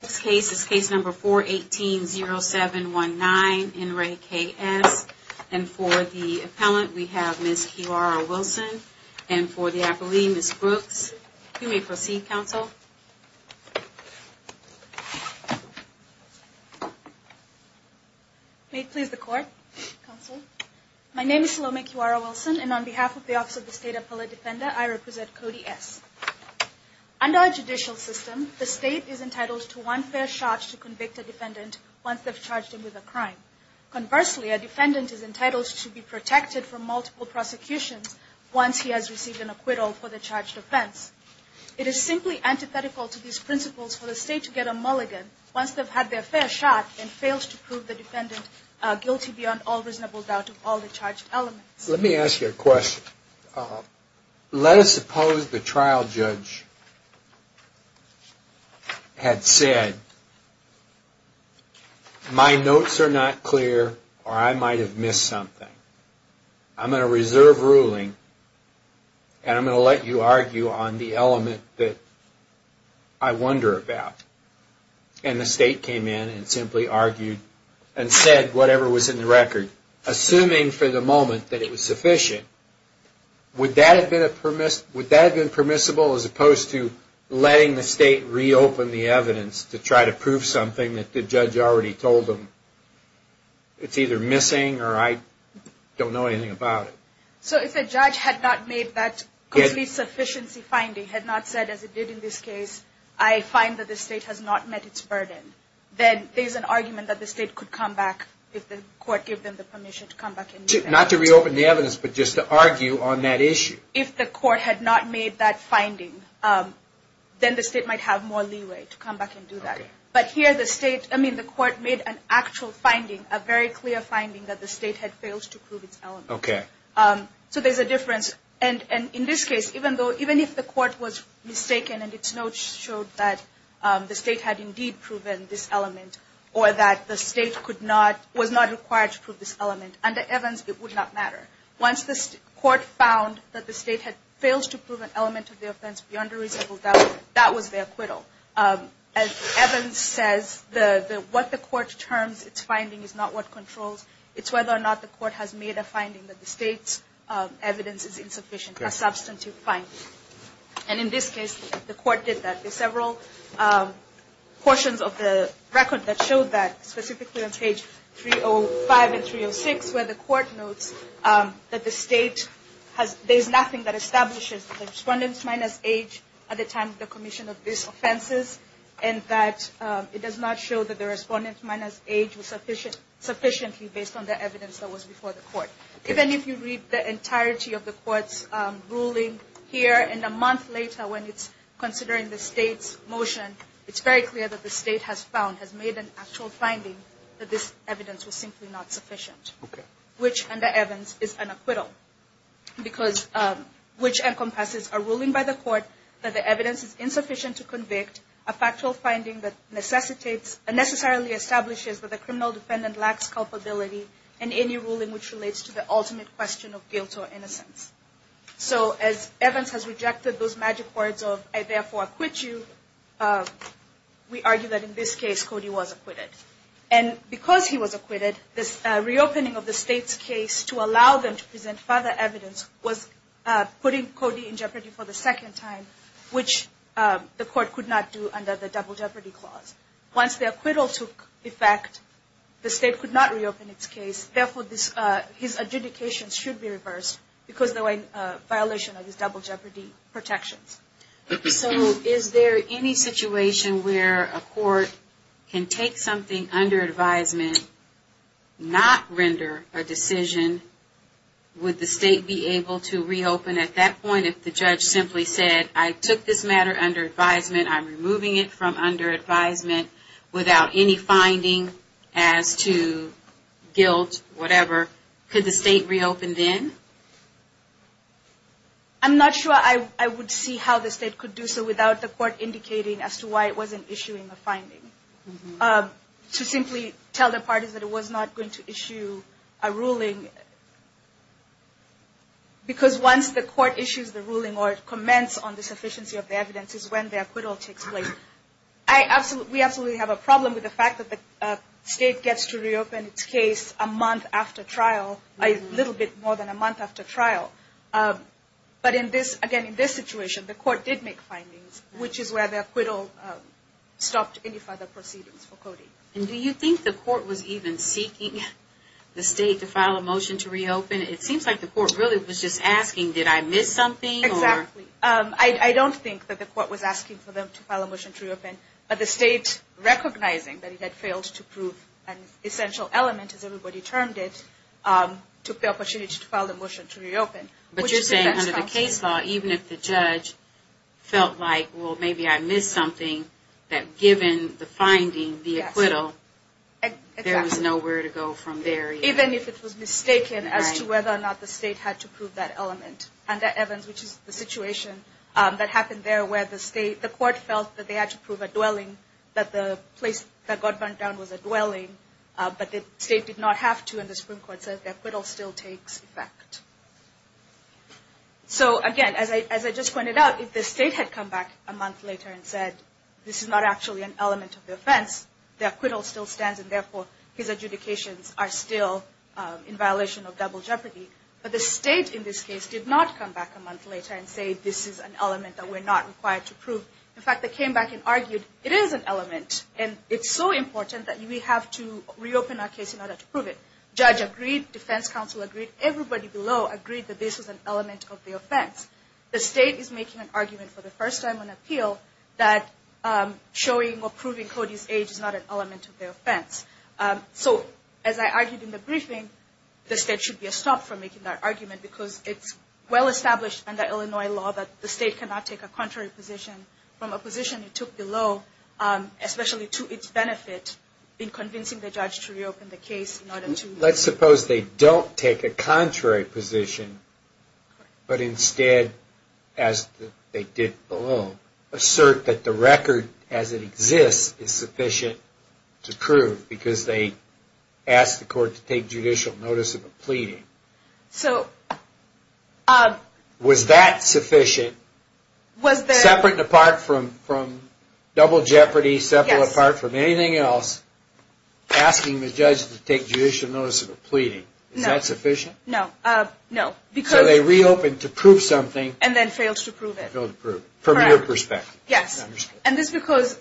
This case is case number 4-18-07-19, in re K.S., and for the appellant, we have Ms. Kiwara-Wilson, and for the appellee, Ms. Brooks, you may proceed, counsel. May it please the court, counsel. My name is Salome Kiwara-Wilson, and on behalf of the Office of the State Appellate Defender, I represent Cody S. Under our judicial system, the state is entitled to one fair shot to convict a defendant once they've charged him with a crime. Conversely, a defendant is entitled to be protected from multiple prosecutions once he has received an acquittal for the charged offense. It is simply antithetical to these principles for the state to get a mulligan once they've had their fair shot and failed to prove the defendant guilty beyond all reasonable doubt of all the charged elements. Let me ask you a question. Let us suppose the trial judge had said, my notes are not clear, or I might have missed something. I'm going to reserve ruling, and I'm going to let you argue on the element that I wonder about. And the state came in and simply argued and said whatever was in the record, assuming for the moment that it was sufficient. Would that have been permissible as opposed to letting the state reopen the evidence to try to prove something that the judge already told them it's either missing or I don't know anything about it? So if the judge had not made that complete sufficiency finding, had not said as it did in this case, I find that the state has not met its burden, then there's an argument that the state could come back if the court gave them the permission to come back and do that. Not to reopen the evidence, but just to argue on that issue. If the court had not made that finding, then the state might have more leeway to come back and do that. But here the state, I mean the court made an actual finding, a very clear finding that the state had failed to prove its element. Okay. So there's a difference. And in this case, even if the court was mistaken and its notes showed that the state had indeed proven this element or that the state was not required to prove this element, under Evans it would not matter. Once the court found that the state had failed to prove an element of the offense beyond a reasonable doubt, that was their acquittal. As Evans says, what the court terms its finding is not what controls. It's whether or not the court has made a finding that the state's evidence is insufficient, a substantive finding. And in this case, the court did that. There's several portions of the record that showed that, specifically on page 305 and 306, where the court notes that the state has, there's nothing that establishes the respondent's minus age at the time of the commission of these offenses. And that it does not show that the respondent's minus age was sufficient, sufficiently based on the evidence that was before the court. Even if you read the entirety of the court's ruling here, and a month later when it's considering the state's motion, it's very clear that the state has found, has made an actual finding that this evidence was simply not sufficient. Okay. Which, under Evans, is an acquittal. Because, which encompasses a ruling by the court that the evidence is insufficient to convict, a factual finding that necessitates, necessarily establishes that the criminal defendant lacks culpability, and any ruling which relates to the ultimate question of guilt or innocence. So, as Evans has rejected those magic words of, I therefore acquit you, we argue that in this case, Cody was acquitted. And because he was acquitted, this reopening of the state's case to allow them to present further evidence was putting Cody in jeopardy for the second time, which the court could not do under the double jeopardy clause. Once the acquittal took effect, the state could not reopen its case. Therefore, his adjudication should be reversed, because of the violation of his double jeopardy protections. So, is there any situation where a court can take something under advisement, not render a decision, would the state be able to reopen at that point if the judge simply said, I took this matter under advisement, I'm removing it from under advisement, without any finding as to guilt, whatever, could the state reopen then? I'm not sure I would see how the state could do so without the court indicating as to why it wasn't issuing a finding. To simply tell the parties that it was not going to issue a ruling, because once the court issues the ruling or comments on the sufficiency of the evidence is when the acquittal takes place. We absolutely have a problem with the fact that the state gets to reopen its case a month after trial, a little bit more than a month after trial. But again, in this situation, the court did make findings, which is where the acquittal stopped any further proceedings for Cody. And do you think the court was even seeking the state to file a motion to reopen? It seems like the court really was just asking, did I miss something? Exactly. I don't think that the court was asking for them to file a motion to reopen, but the state recognizing that it had failed to prove an essential element, as everybody termed it, took the opportunity to file a motion to reopen. But you're saying under the case law, even if the judge felt like, well, maybe I missed something, that given the finding, the acquittal, there was nowhere to go from there. Even if it was mistaken as to whether or not the state had to prove that element. Under Evans, which is the situation that happened there where the court felt that they had to prove a dwelling, that the place that got burned down was a dwelling, but the state did not have to and the Supreme Court said the acquittal still takes effect. So again, as I just pointed out, if the state had come back a month later and said this is not actually an element of the offense, the acquittal still stands and therefore his adjudications are still in violation of double jeopardy. But the state in this case did not come back a month later and say this is an element that we're not required to prove. In fact, they came back and argued it is an element and it's so important that we have to reopen our case in order to prove it. Judge agreed, defense counsel agreed, everybody below agreed that this is an element of the offense. The state is making an argument for the first time on appeal that showing or proving Cody's age is not an element of the offense. So as I argued in the briefing, the state should be stopped from making that argument because it's well established under Illinois law that the state cannot take a contrary position from a position it took below, especially to its benefit, in convincing the judge to reopen the case. Let's suppose they don't take a contrary position, but instead, as they did below, assert that the record as it exists is sufficient to prove because they asked the court to take judicial notice of a pleading. Was that sufficient, separate and apart from double jeopardy, separate and apart from anything else, asking the judge to take judicial notice of a pleading? Is that sufficient? No. So they reopened to prove something. And then failed to prove it. From your perspective. Yes. And this is because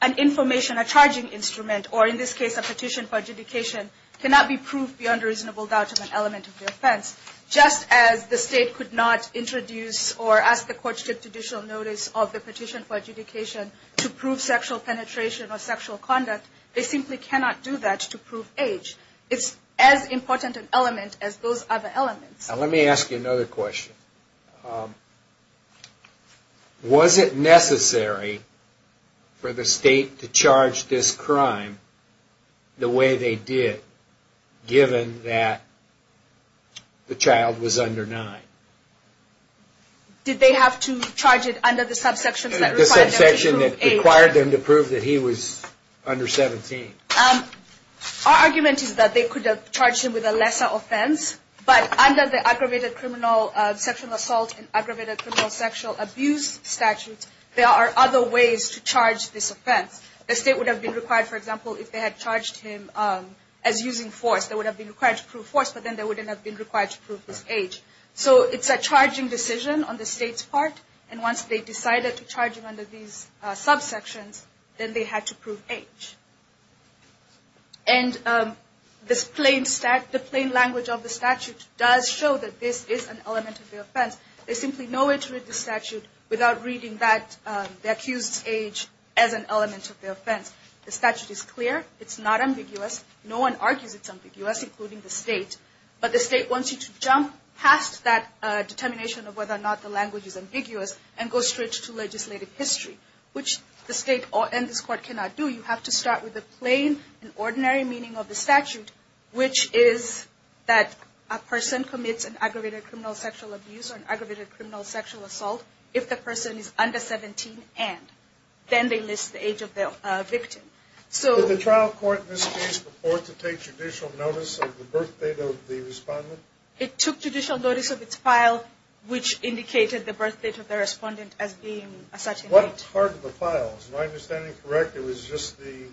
an information, a charging instrument, or in this case a petition for adjudication, cannot be proved beyond a reasonable doubt of an element of the offense. Just as the state could not introduce or ask the court to take judicial notice of the petition for adjudication to prove sexual penetration or sexual conduct, they simply cannot do that to prove age. It's as important an element as those other elements. Now let me ask you another question. Was it necessary for the state to charge this crime the way they did, given that the child was under 9? Did they have to charge it under the subsection that required them to prove age? The subsection that required them to prove that he was under 17. Our argument is that they could have charged him with a lesser offense, but under the aggravated criminal sexual assault and aggravated criminal sexual abuse statute, there are other ways to charge this offense. The state would have been required, for example, if they had charged him as using force. They would have been required to prove force, but then they wouldn't have been required to prove his age. So it's a charging decision on the state's part. And once they decided to charge him under these subsections, then they had to prove age. And the plain language of the statute does show that this is an element of the offense. There's simply no way to read the statute without reading the accused's age as an element of the offense. The statute is clear. It's not ambiguous. No one argues it's ambiguous, including the state. But the state wants you to jump past that determination of whether or not the language is ambiguous and go straight to legislative history, which the state and this court cannot do. You have to start with the plain and ordinary meaning of the statute, which is that a person commits an aggravated criminal sexual abuse or an aggravated criminal sexual assault if the person is under 17 and. Then they list the age of the victim. Did the trial court in this case report to take judicial notice of the birth date of the respondent? It took judicial notice of its file, which indicated the birth date of the respondent as being a certain date. What part of the file? Is my understanding correct? It was just the...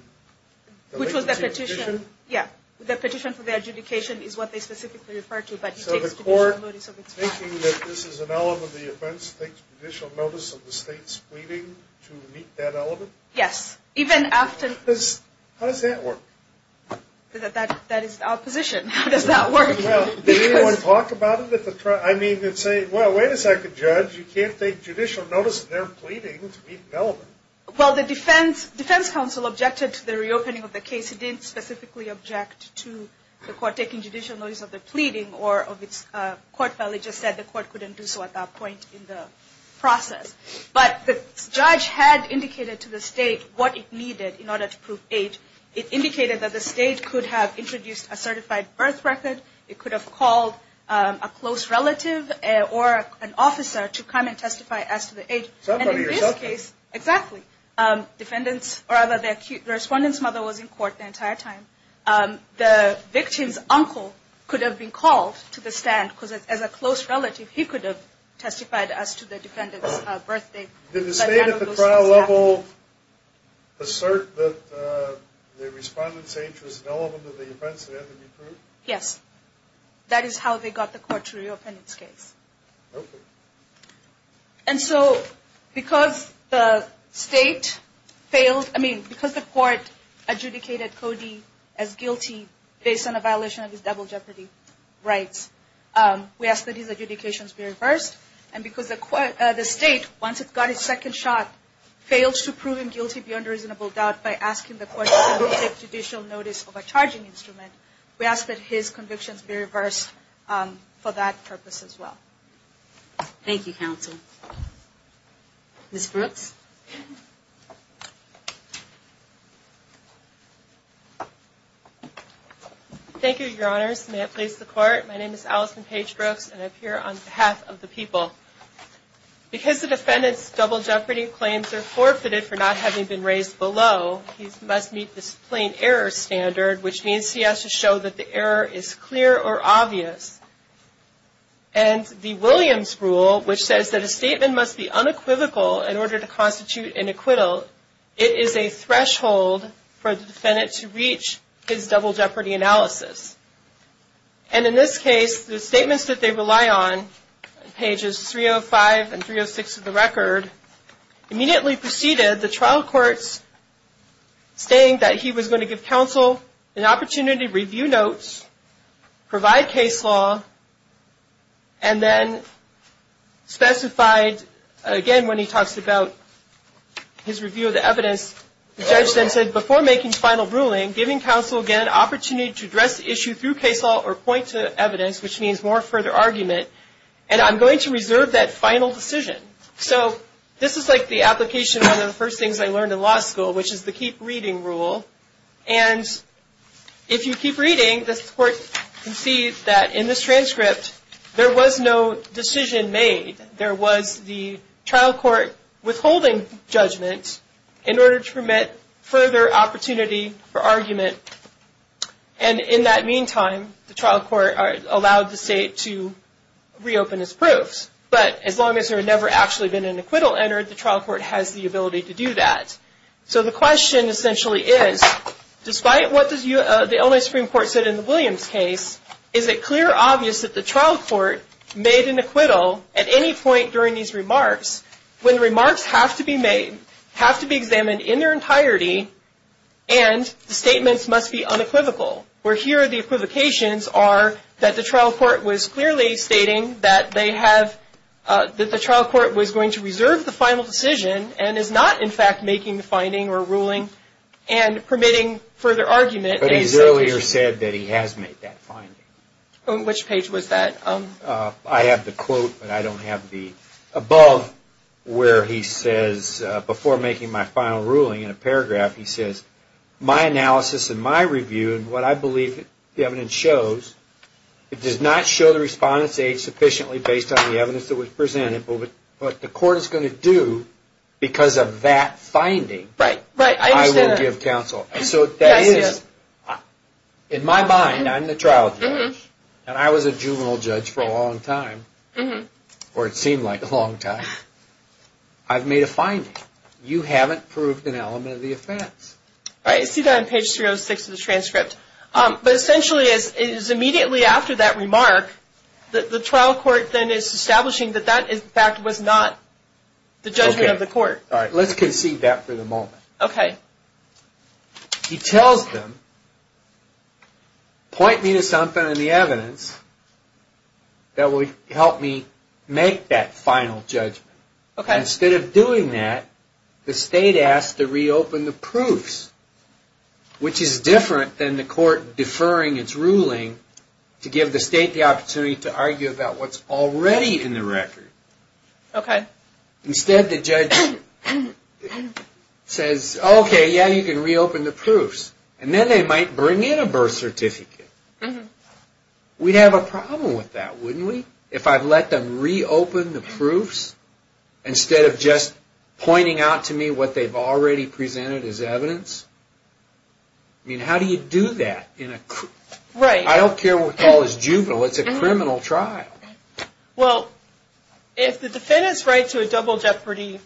Which was the petition. Yeah. The petition for the adjudication is what they specifically referred to. So the court, thinking that this is an element of the offense, takes judicial notice of the state's pleading to meet that element? Yes. Even after... How does that work? That is the opposition. How does that work? Well, did anyone talk about it at the trial? I mean, they'd say, well, wait a second, Judge. You can't take judicial notice of their pleading to meet an element. Well, the defense counsel objected to the reopening of the case. It didn't specifically object to the court taking judicial notice of the pleading or of its court file. It just said the court couldn't do so at that point in the process. But the judge had indicated to the state what it needed in order to prove age. It indicated that the state could have introduced a certified birth record. It could have called a close relative or an officer to come and testify as to the age. Somebody yourself. Exactly. Defendants... The respondent's mother was in court the entire time. The victim's uncle could have been called to the stand because as a close relative, he could have testified as to the defendant's birthday. Did the state at the trial level assert that the respondent's age was an element of the offense that had to be proved? Yes. That is how they got the court to reopen its case. Okay. And so because the state failed... I mean, because the court adjudicated Cody as guilty based on a violation of his double jeopardy rights, we ask that his adjudications be reversed. And because the state, once it got its second shot, failed to prove him guilty beyond reasonable doubt by asking the court to take judicial notice of a charging instrument, we ask that his convictions be reversed for that purpose as well. Thank you, counsel. Ms. Brooks? Thank you, Your Honors. May it please the Court. My name is Allison Page Brooks, and I'm here on behalf of the people. Because the defendant's double jeopardy claims are forfeited for not having been raised below, he must meet this plain error standard, which means he has to show that the error is clear or obvious. And the Williams rule, which says that a statement must be unequivocal in order to constitute an acquittal, it is a threshold for the defendant to reach his double jeopardy analysis. And in this case, the statements that they rely on, pages 305 and 306 of the record, immediately preceded the trial courts saying that he was going to give counsel an opportunity to review notes, provide case law, and then specified, again, when he talks about his review of the evidence, the judge then said, before making the final ruling, giving counsel, again, an opportunity to address the issue through case law or point to evidence, which means more further argument. And I'm going to reserve that final decision. So this is like the application of one of the first things I learned in law school, which is the keep reading rule. And if you keep reading, the court can see that in this transcript, there was no decision made. There was the trial court withholding judgment in order to permit further opportunity for argument. And in that meantime, the trial court allowed the state to reopen his proofs. But as long as there had never actually been an acquittal entered, the trial court has the ability to do that. So the question essentially is, despite what the Illinois Supreme Court said in the Williams case, is it clear or obvious that the trial court made an acquittal at any point during these remarks, when remarks have to be made, have to be examined in their entirety, and the statements must be unequivocal, where here the equivocations are that the trial court was clearly stating that they have – that the trial court was going to reserve the final decision and is not, in fact, making the finding or ruling and permitting further argument. But he's earlier said that he has made that finding. Which page was that? I have the quote, but I don't have the – above where he says, before making my final ruling in a paragraph, he says, my analysis and my review and what I believe the evidence shows, it does not show the respondent's age sufficiently based on the evidence that was presented, but what the court is going to do because of that finding, I will give counsel. So that is – in my mind, I'm the trial judge, and I was a juvenile judge for a long time, or it seemed like a long time. I've made a finding. You haven't proved an element of the offense. I see that on page 306 of the transcript. But essentially, it is immediately after that remark that the trial court then is establishing that that, in fact, was not the judgment of the court. Let's concede that for the moment. He tells them, point me to something in the evidence that would help me make that final judgment. Instead of doing that, the state asks to reopen the proofs, which is different than the court deferring its ruling to give the state the opportunity to argue about what's already in the record. Okay. Instead, the judge says, okay, yeah, you can reopen the proofs, and then they might bring in a birth certificate. We'd have a problem with that, wouldn't we, if I'd let them reopen the proofs instead of just pointing out to me what they've already presented as evidence? I mean, how do you do that in a – I don't care what we call this juvenile. It's a criminal trial. Well, if the defendant's right to a double jeopardy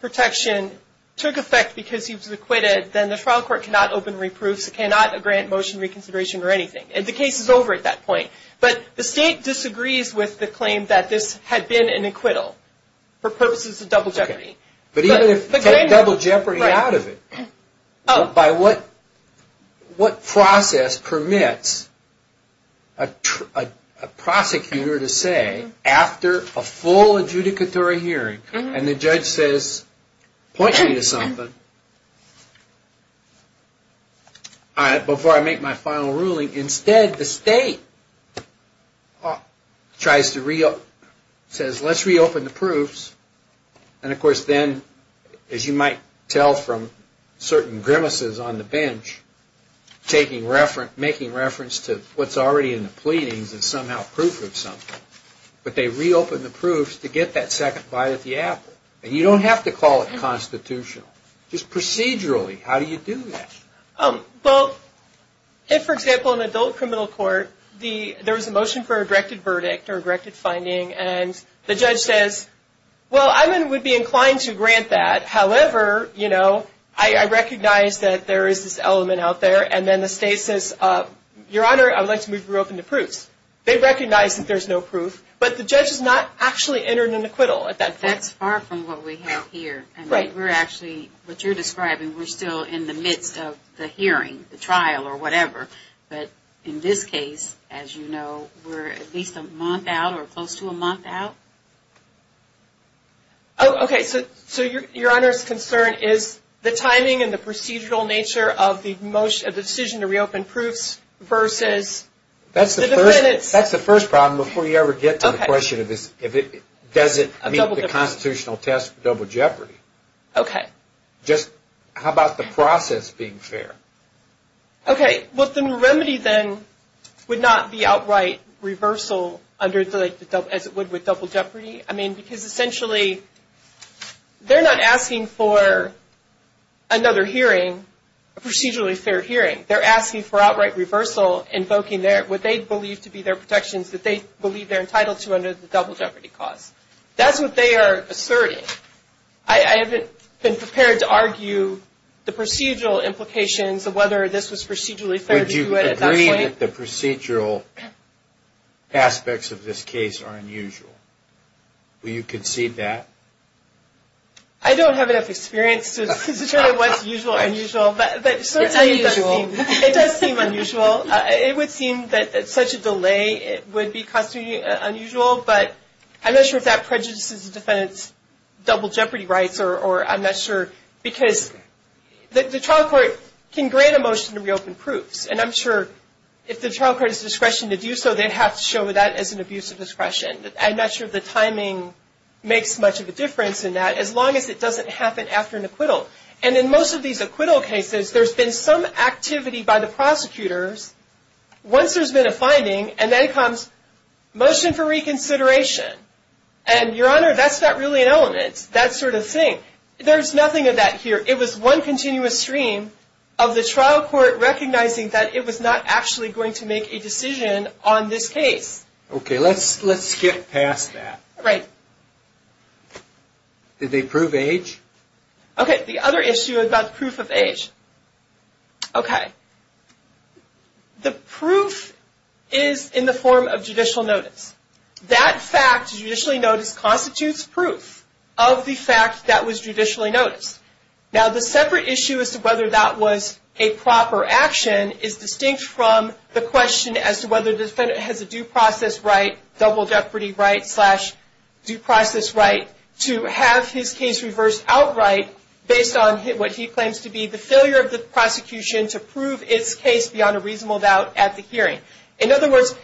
protection took effect because he was acquitted, then the trial court cannot open reproofs. It cannot grant motion reconsideration or anything. The case is over at that point. But the state disagrees with the claim that this had been an acquittal for purposes of double jeopardy. But even if they take double jeopardy out of it, by what process permits a prosecutor to say, after a full adjudicatory hearing, and the judge says, point me to something, before I make my final ruling. Instead, the state says, let's reopen the proofs. And, of course, then, as you might tell from certain grimaces on the bench, making reference to what's already in the pleadings is somehow proof of something. But they reopen the proofs to get that second bite of the apple. And you don't have to call it constitutional. Just procedurally, how do you do that? Well, if, for example, in adult criminal court, there was a motion for a directed verdict or a directed finding, and the judge says, well, I would be inclined to grant that. However, you know, I recognize that there is this element out there. And then the state says, Your Honor, I would like to move you open to proofs. They recognize that there's no proof, but the judge has not actually entered an acquittal at that point. That's far from what we have here. And we're actually, what you're describing, we're still in the midst of the hearing, the trial, or whatever. But in this case, as you know, we're at least a month out or close to a month out. Oh, okay. So Your Honor's concern is the timing and the procedural nature of the decision to reopen proofs versus the defendants. That's the first problem before you ever get to the question of does it meet the constitutional test for double jeopardy. Okay. Just how about the process being fair? Okay. Well, the remedy then would not be outright reversal as it would with double jeopardy. I mean, because essentially they're not asking for another hearing, a procedurally fair hearing. They're asking for outright reversal invoking what they believe to be their protections that they believe they're entitled to under the double jeopardy clause. That's what they are asserting. I haven't been prepared to argue the procedural implications of whether this was procedurally fair to do it at that point. Would you agree that the procedural aspects of this case are unusual? Would you concede that? I don't have enough experience to tell you what's usual or unusual. It's unusual. It does seem unusual. It would seem that such a delay would be constantly unusual, but I'm not sure if that prejudices the defendant's double jeopardy rights or I'm not sure. Because the trial court can grant a motion to reopen proofs, and I'm sure if the trial court has discretion to do so, they'd have to show that as an abuse of discretion. I'm not sure the timing makes much of a difference in that as long as it doesn't happen after an acquittal. And in most of these acquittal cases, there's been some activity by the prosecutors. Once there's been a finding, and then comes motion for reconsideration. And, Your Honor, that's not really an element, that sort of thing. There's nothing of that here. It was one continuous stream of the trial court recognizing that it was not actually going to make a decision on this case. Okay, let's skip past that. Right. Did they prove age? Okay, the other issue about proof of age. Okay. The proof is in the form of judicial notice. That fact, judicially notice, constitutes proof of the fact that was judicially noticed. Now, the separate issue as to whether that was a proper action is distinct from the question as to whether the defendant has a due process right, double jeopardy right, to have his case reversed outright based on what he claims to be the failure of the prosecution to prove its case beyond a reasonable doubt at the hearing. In other words,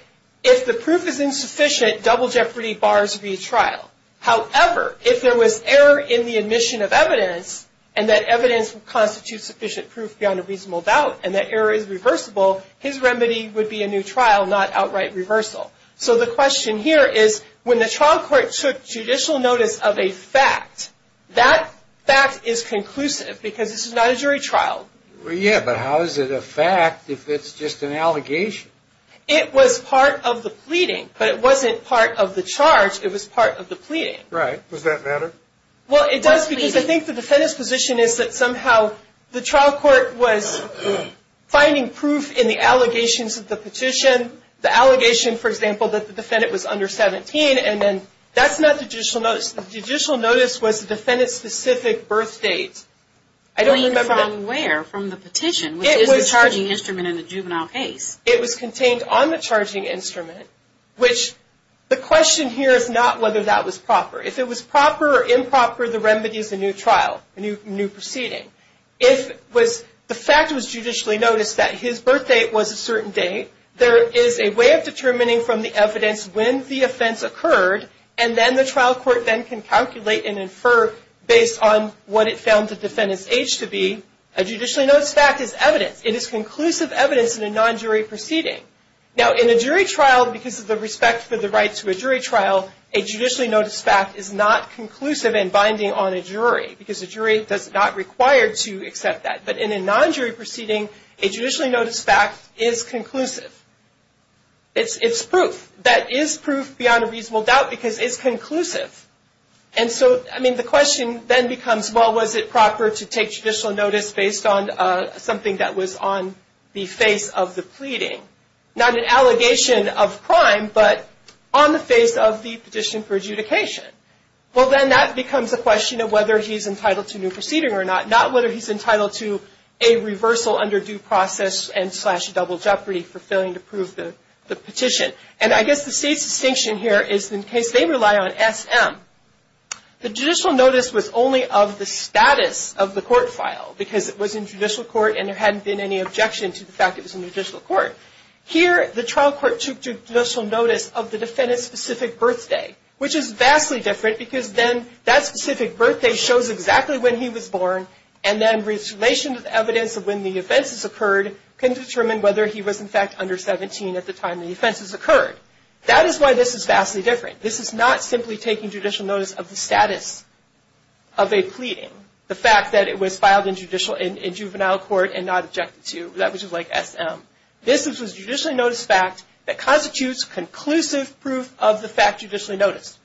if the proof is insufficient, double jeopardy bars the trial. However, if there was error in the admission of evidence, and that evidence would constitute sufficient proof beyond a reasonable doubt, and that error is reversible, his remedy would be a new trial, not outright reversal. So the question here is when the trial court took judicial notice of a fact, that fact is conclusive because this is not a jury trial. Yeah, but how is it a fact if it's just an allegation? It was part of the pleading, but it wasn't part of the charge. It was part of the pleading. Right. Does that matter? Well, it does because I think the defendant's position is that somehow the trial court was finding proof in the allegations of the petition, the allegation, for example, that the defendant was under 17, and then that's not the judicial notice. The judicial notice was the defendant's specific birth date. I don't remember. From where? From the petition, which is the charging instrument in the juvenile case. It was contained on the charging instrument, which the question here is not whether that was proper. If it was proper or improper, the remedy is a new trial, a new proceeding. If the fact was judicially noticed that his birth date was a certain date, there is a way of determining from the evidence when the offense occurred, and then the trial court then can calculate and infer based on what it found the defendant's age to be. A judicially noticed fact is evidence. It is conclusive evidence in a non-jury proceeding. Now, in a jury trial, because of the respect for the rights of a jury trial, a judicially noticed fact is not conclusive and binding on a jury because a jury is not required to accept that. But in a non-jury proceeding, a judicially noticed fact is conclusive. It's proof. That is proof beyond a reasonable doubt because it's conclusive. And so, I mean, the question then becomes, well, was it proper to take judicial notice based on something that was on the face of the pleading? Not an allegation of crime, but on the face of the petition for adjudication. Well, then that becomes a question of whether he's entitled to a new proceeding or not, not whether he's entitled to a reversal under due process and slash double jeopardy for failing to prove the petition. And I guess the state's distinction here is in case they rely on SM, the judicial notice was only of the status of the court file because it was in judicial court and there hadn't been any objection to the fact it was in judicial court. Here, the trial court took judicial notice of the defendant's specific birthday, which is vastly different because then that specific birthday shows exactly when he was born and then in relation to the evidence of when the offenses occurred, can determine whether he was, in fact, under 17 at the time the offenses occurred. That is why this is vastly different. This is not simply taking judicial notice of the status of a pleading, the fact that it was filed in juvenile court and not objected to. That was just like SM. This is a judicially noticed fact that constitutes conclusive proof of the fact judicially noticed.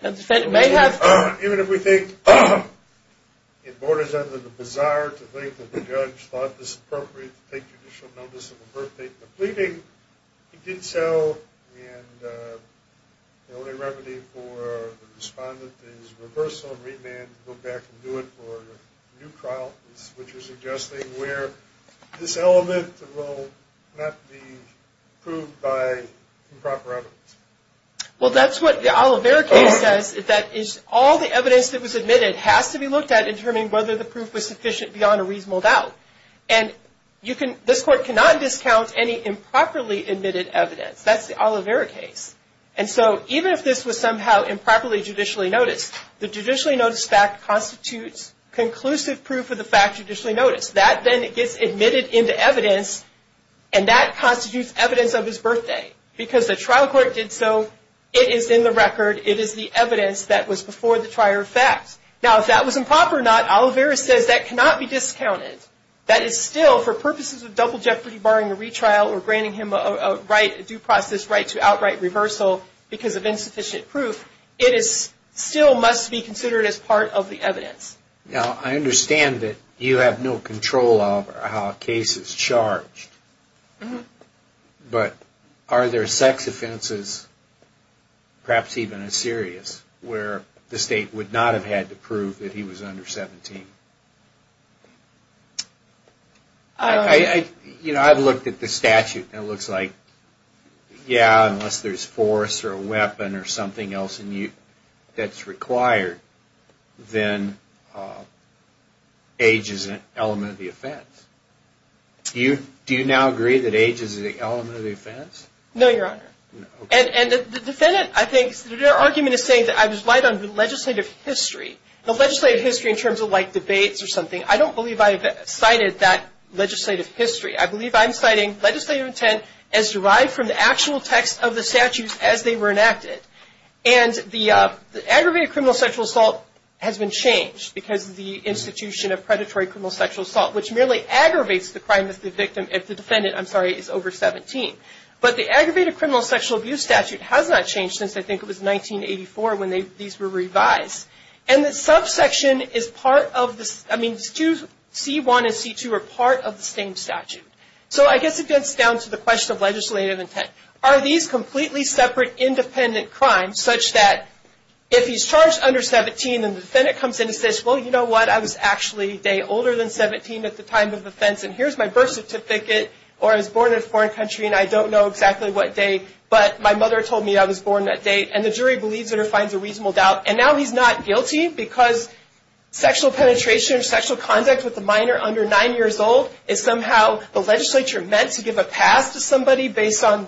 The defendant may have... Even if we think it borders on the bizarre to think that the judge thought it was appropriate to take judicial notice of a birthday in a pleading, he did so and the only remedy for the respondent is reversal, remand, and go back and do it for a new trial, which is suggesting where this element will not be proved by improper evidence. Well, that's what the Oliveira case says. That is, all the evidence that was admitted has to be looked at in determining whether the proof was sufficient beyond a reasonable doubt. And this court cannot discount any improperly admitted evidence. That's the Oliveira case. And so, even if this was somehow improperly judicially noticed, the judicially noticed fact constitutes conclusive proof of the fact judicially noticed. That then gets admitted into evidence and that constitutes evidence of his birthday because the trial court did so. It is in the record. It is the evidence that was before the trial fact. Now, if that was improper or not, Oliveira says that cannot be discounted. That is still, for purposes of double jeopardy barring a retrial or granting him a right, a due process right to outright reversal because of insufficient proof, it still must be considered as part of the evidence. Now, I understand that you have no control over how a case is charged, but are there sex offenses, perhaps even a serious, where the state would not have had to prove that he was under 17? I've looked at the statute and it looks like, yeah, unless there's force or a weapon or something else that's required, then age is an element of the offense. Do you now agree that age is an element of the offense? No, Your Honor. And the defendant, I think, their argument is saying that I was right on the legislative history. The legislative history in terms of, like, debates or something, I don't believe I've cited that legislative history. I believe I'm citing legislative intent as derived from the actual text of the statutes as they were enacted. And the aggravated criminal sexual assault has been changed because of the institution of predatory criminal sexual assault, which merely aggravates the crime of the victim if the defendant, I'm sorry, is over 17. But the aggravated criminal sexual abuse statute has not changed since, I think, it was 1984 when these were revised. And the subsection is part of the, I mean, C-1 and C-2 are part of the same statute. So I guess it gets down to the question of legislative intent. Are these completely separate independent crimes such that if he's charged under 17 and the defendant comes in and says, well, you know what, I was actually a day older than 17 at the time of offense, and here's my birth certificate, or I was born in a foreign country, and I don't know exactly what day, but my mother told me I was born that day, and the jury believes it or finds a reasonable doubt, and now he's not guilty because sexual penetration or sexual conduct with a minor under 9 years old is somehow the legislature meant to give a pass to somebody based on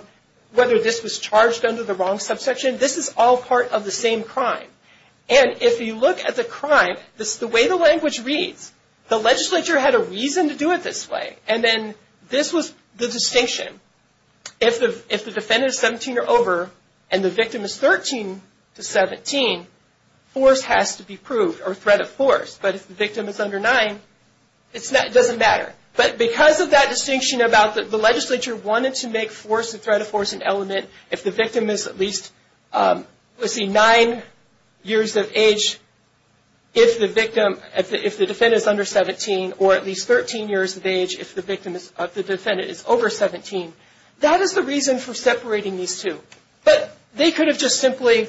whether this was charged under the wrong subsection. This is all part of the same crime. And if you look at the crime, the way the language reads, the legislature had a reason to do it this way, and then this was the distinction. If the defendant is 17 or over and the victim is 13 to 17, force has to be proved, or threat of force. But if the victim is under 9, it doesn't matter. But because of that distinction about the legislature wanted to make force and threat of force an element, if the victim is at least, let's see, 9 years of age, if the victim, if the defendant is under 17, or at least 13 years of age if the victim is, if the defendant is over 17, that is the reason for separating these two. But they could have just simply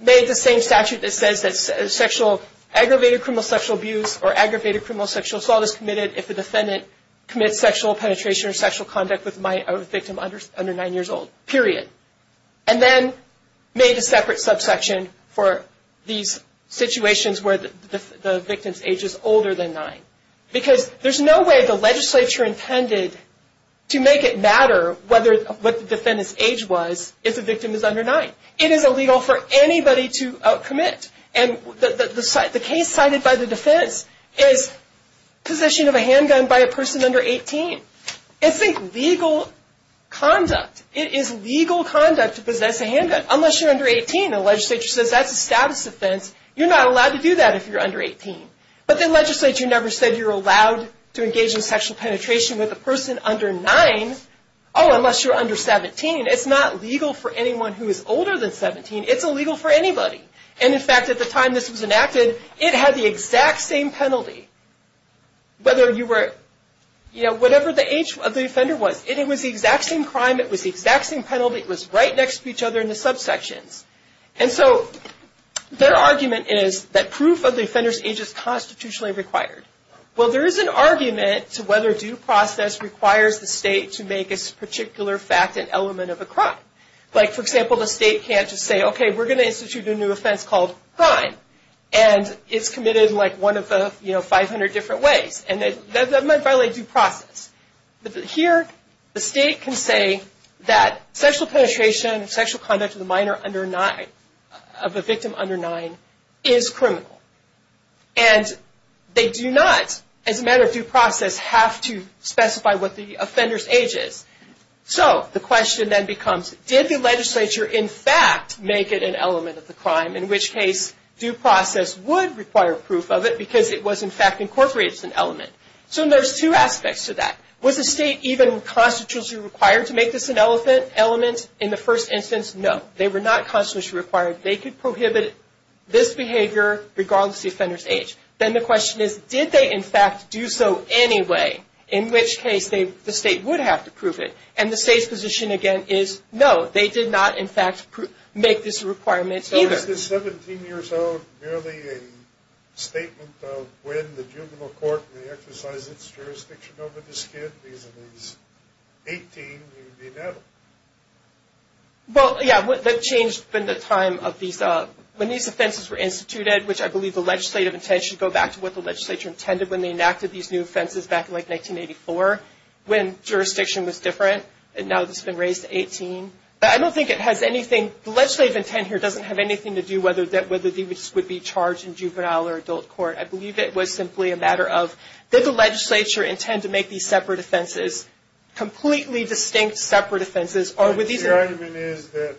made the same statute that says that sexual, aggravated criminal sexual abuse or aggravated criminal sexual assault is committed if the defendant commits sexual penetration or sexual conduct with a victim under 9 years old, period. And then made a separate subsection for these situations where the victim's age is older than 9. Because there's no way the legislature intended to make it matter what the defendant's age was if the victim is under 9. It is illegal for anybody to commit. And the case cited by the defense is position of a handgun by a person under 18. It's legal conduct. It is legal conduct to possess a handgun unless you're under 18. The legislature says that's a status offense. You're not allowed to do that if you're under 18. But the legislature never said you're allowed to engage in sexual penetration with a person under 9. Oh, unless you're under 17. It's not legal for anyone who is older than 17. It's illegal for anybody. And in fact, at the time this was enacted, it had the exact same penalty. Whether you were, you know, whatever the age of the offender was. It was the exact same crime. It was the exact same penalty. It was right next to each other in the subsections. And so their argument is that proof of the offender's age is constitutionally required. Well, there is an argument to whether due process requires the state to make a particular fact an element of a crime. Like, for example, the state can't just say, okay, we're going to institute a new offense called crime. And it's committed in like one of the, you know, 500 different ways. And that might violate due process. But here the state can say that sexual penetration, sexual conduct with a minor under 9, of a victim under 9, is criminal. And they do not, as a matter of due process, have to specify what the offender's age is. So the question then becomes, did the legislature in fact make it an element of the crime? In which case, due process would require proof of it because it was in fact incorporated as an element. So there's two aspects to that. Was the state even constitutionally required to make this an element in the first instance? No. They were not constitutionally required. They could prohibit this behavior regardless of the offender's age. Then the question is, did they in fact do so anyway? In which case, the state would have to prove it. And the state's position, again, is no. They did not in fact make this a requirement either. So is this 17 years old merely a statement of when the juvenile court may exercise its jurisdiction over this kid? He's 18. He would be an adult. Well, yeah. That changed in the time of these, when these offenses were instituted, which I believe the legislative intent should go back to what the legislature intended when they enacted these new offenses back in, like, 1984, when jurisdiction was different. And now it's been raised to 18. I don't think it has anything, the legislative intent here doesn't have anything to do whether this would be charged in juvenile or adult court. I believe it was simply a matter of did the legislature intend to make these separate offenses completely distinct separate offenses? The argument is that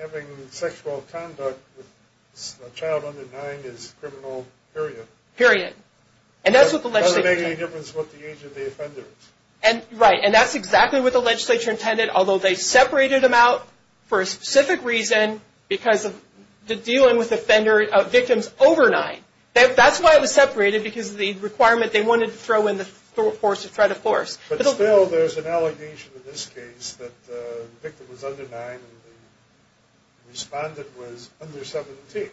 having sexual conduct with a child under 9 is criminal, period. Period. And that's what the legislature intended. It doesn't make any difference what the age of the offender is. Right. And that's exactly what the legislature intended, although they separated them out for a specific reason because of dealing with victims over 9. That's why it was separated, because of the requirement they wanted to throw in the threat of force. But still, there's an allegation in this case that the victim was under 9 and the respondent was under 17. Isn't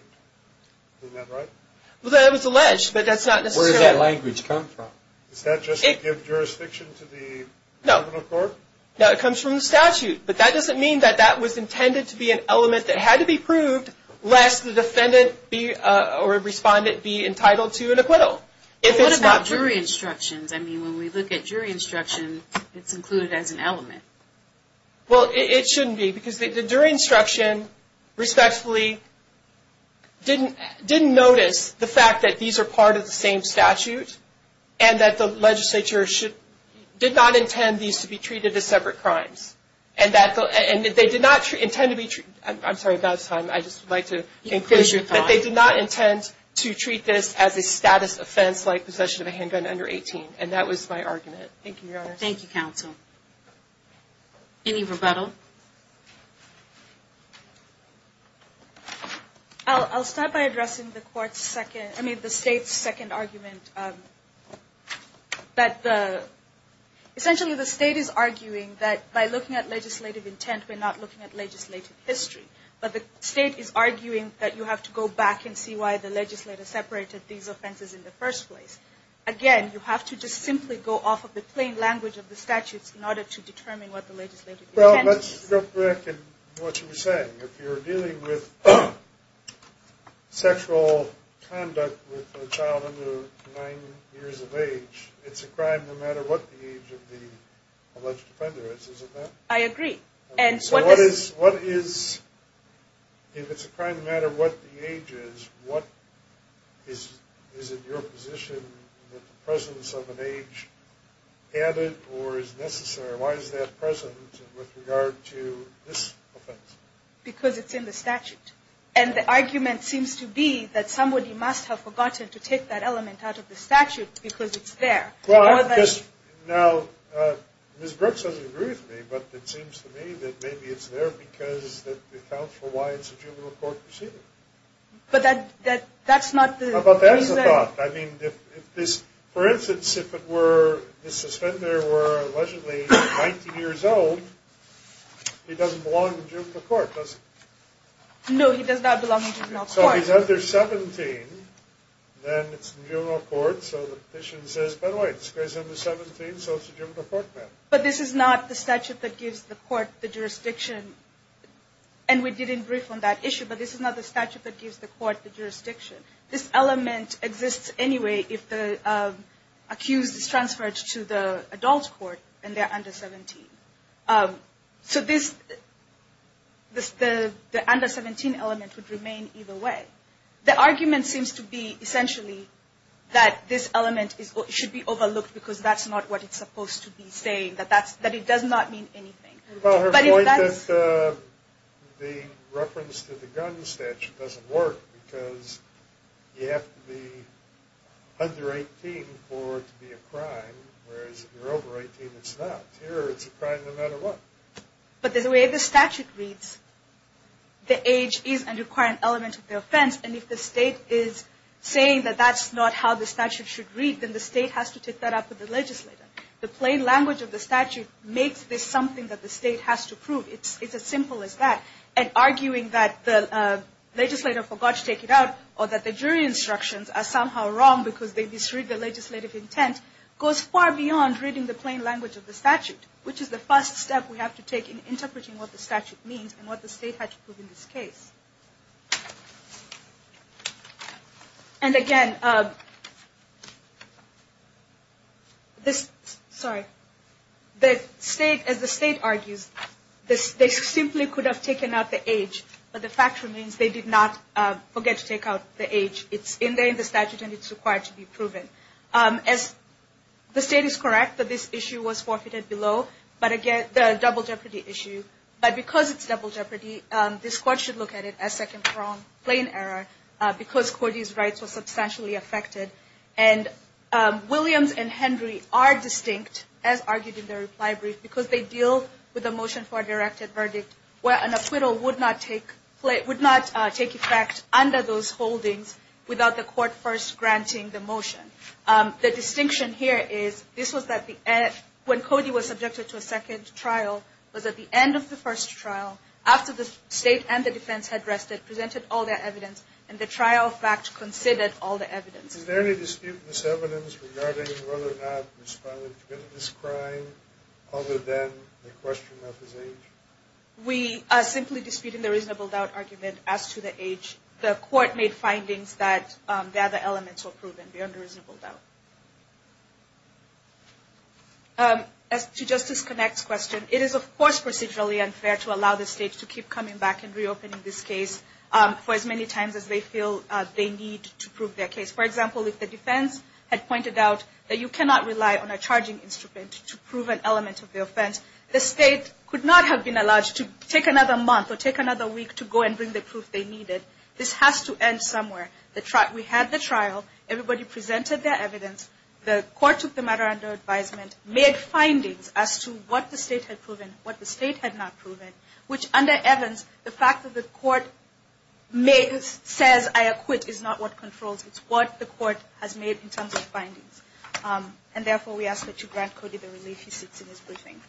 that right? Well, that was alleged, but that's not necessarily. Where did that language come from? Does that just give jurisdiction to the criminal court? No. No, it comes from the statute. But that doesn't mean that that was intended to be an element that had to be proved, lest the defendant or respondent be entitled to an acquittal. What about jury instructions? I mean, when we look at jury instruction, it's included as an element. Well, it shouldn't be, because the jury instruction, respectfully, didn't notice the fact that these are part of the same statute and that the legislature did not intend these to be treated as separate crimes. And that they did not intend to be treated as a status offense, like possession of a handgun under 18. And that was my argument. Thank you, Your Honor. Thank you, counsel. Any rebuttal? I'll start by addressing the state's second argument. Essentially, the state is arguing that by looking at legislative intent, we're not looking at legislative history. But the state is arguing that you have to go back and see why the legislature separated these offenses in the first place. Again, you have to just simply go off of the plain language of the statutes in order to determine what the legislative intent is. Well, let's go back to what you were saying. If you're dealing with sexual conduct with a child under nine years of age, it's a crime no matter what the age of the alleged offender is. Isn't that right? I agree. If it's a crime no matter what the age is, is it your position that the presence of an age added or is necessary? Why is that present with regard to this offense? Because it's in the statute. And the argument seems to be that somebody must have forgotten to take that element out of the statute because it's there. Now, Ms. Brooks doesn't agree with me, but it seems to me that maybe it's there because it accounts for why it's a juvenile court proceeding. But that's not the reason. I mean, for instance, if this offender were allegedly 19 years old, he doesn't belong in juvenile court, does he? No, he does not belong in juvenile court. So he's under 17, then it's in juvenile court, so the petition says, by the way, this guy's under 17, so it's a juvenile court matter. But this is not the statute that gives the court the jurisdiction, and we didn't brief on that issue, but this is not the statute that gives the court the jurisdiction. This element exists anyway if the accused is transferred to the adult court and they're under 17. So the under 17 element would remain either way. The argument seems to be, essentially, that this element should be overlooked because that's not what it's supposed to be saying, that it does not mean anything. Well, her point that the reference to the gun statute doesn't work because you have to be under 18 for it to be a crime, whereas if you're over 18, it's not. Here, it's a crime no matter what. But the way the statute reads, the age is a required element of the offense, and if the state is saying that that's not how the statute should read, then the state has to take that up with the legislator. The plain language of the statute makes this something that the state has to prove. It's as simple as that. And arguing that the legislator forgot to take it out or that the jury instructions are somehow wrong because they misread the legislative intent goes far beyond reading the plain language of the statute, which is the first step we have to take in interpreting what the statute means and what the state has to prove in this case. And again, as the state argues, they simply could have taken out the age, but the fact remains they did not forget to take out the age. It's in there in the statute, and it's required to be proven. The state is correct that this issue was forfeited below, but again, the double jeopardy issue. But because it's double jeopardy, this court should look at it as second from plain error because Cody's rights were substantially affected. And Williams and Henry are distinct, as argued in their reply brief, because they deal with a motion for a directed verdict where an acquittal would not take effect under those holdings without the court first granting the motion. The distinction here is this was at the end when Cody was subjected to a second trial, was at the end of the first trial, after the state and the defense had rested, presented all their evidence, and the trial fact considered all the evidence. Is there any dispute in this evidence regarding whether or not he's committed this crime other than the question of his age? We are simply disputing the reasonable doubt argument as to the age. The court made findings that the other elements were proven beyond the reasonable doubt. As to Justice Connacht's question, it is of course procedurally unfair to allow the state to keep coming back and reopening this case for as many times as they feel they need to prove their case. For example, if the defense had pointed out that you cannot rely on a charging instrument to prove an element of the offense, the state could not have been allowed to take another month or take another week to go and bring the proof they needed. This has to end somewhere. We had the trial. Everybody presented their evidence. The court took the matter under advisement, made findings as to what the state had proven, what the state had not proven, which under Evans, the fact that the court says I acquit is not what controls. It's what the court has made in terms of findings. And therefore, we ask that you grant Cody the relief he seeks in his briefing.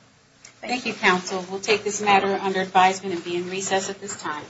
Thank you, counsel. We'll take this matter under advisement and be in recess at this time.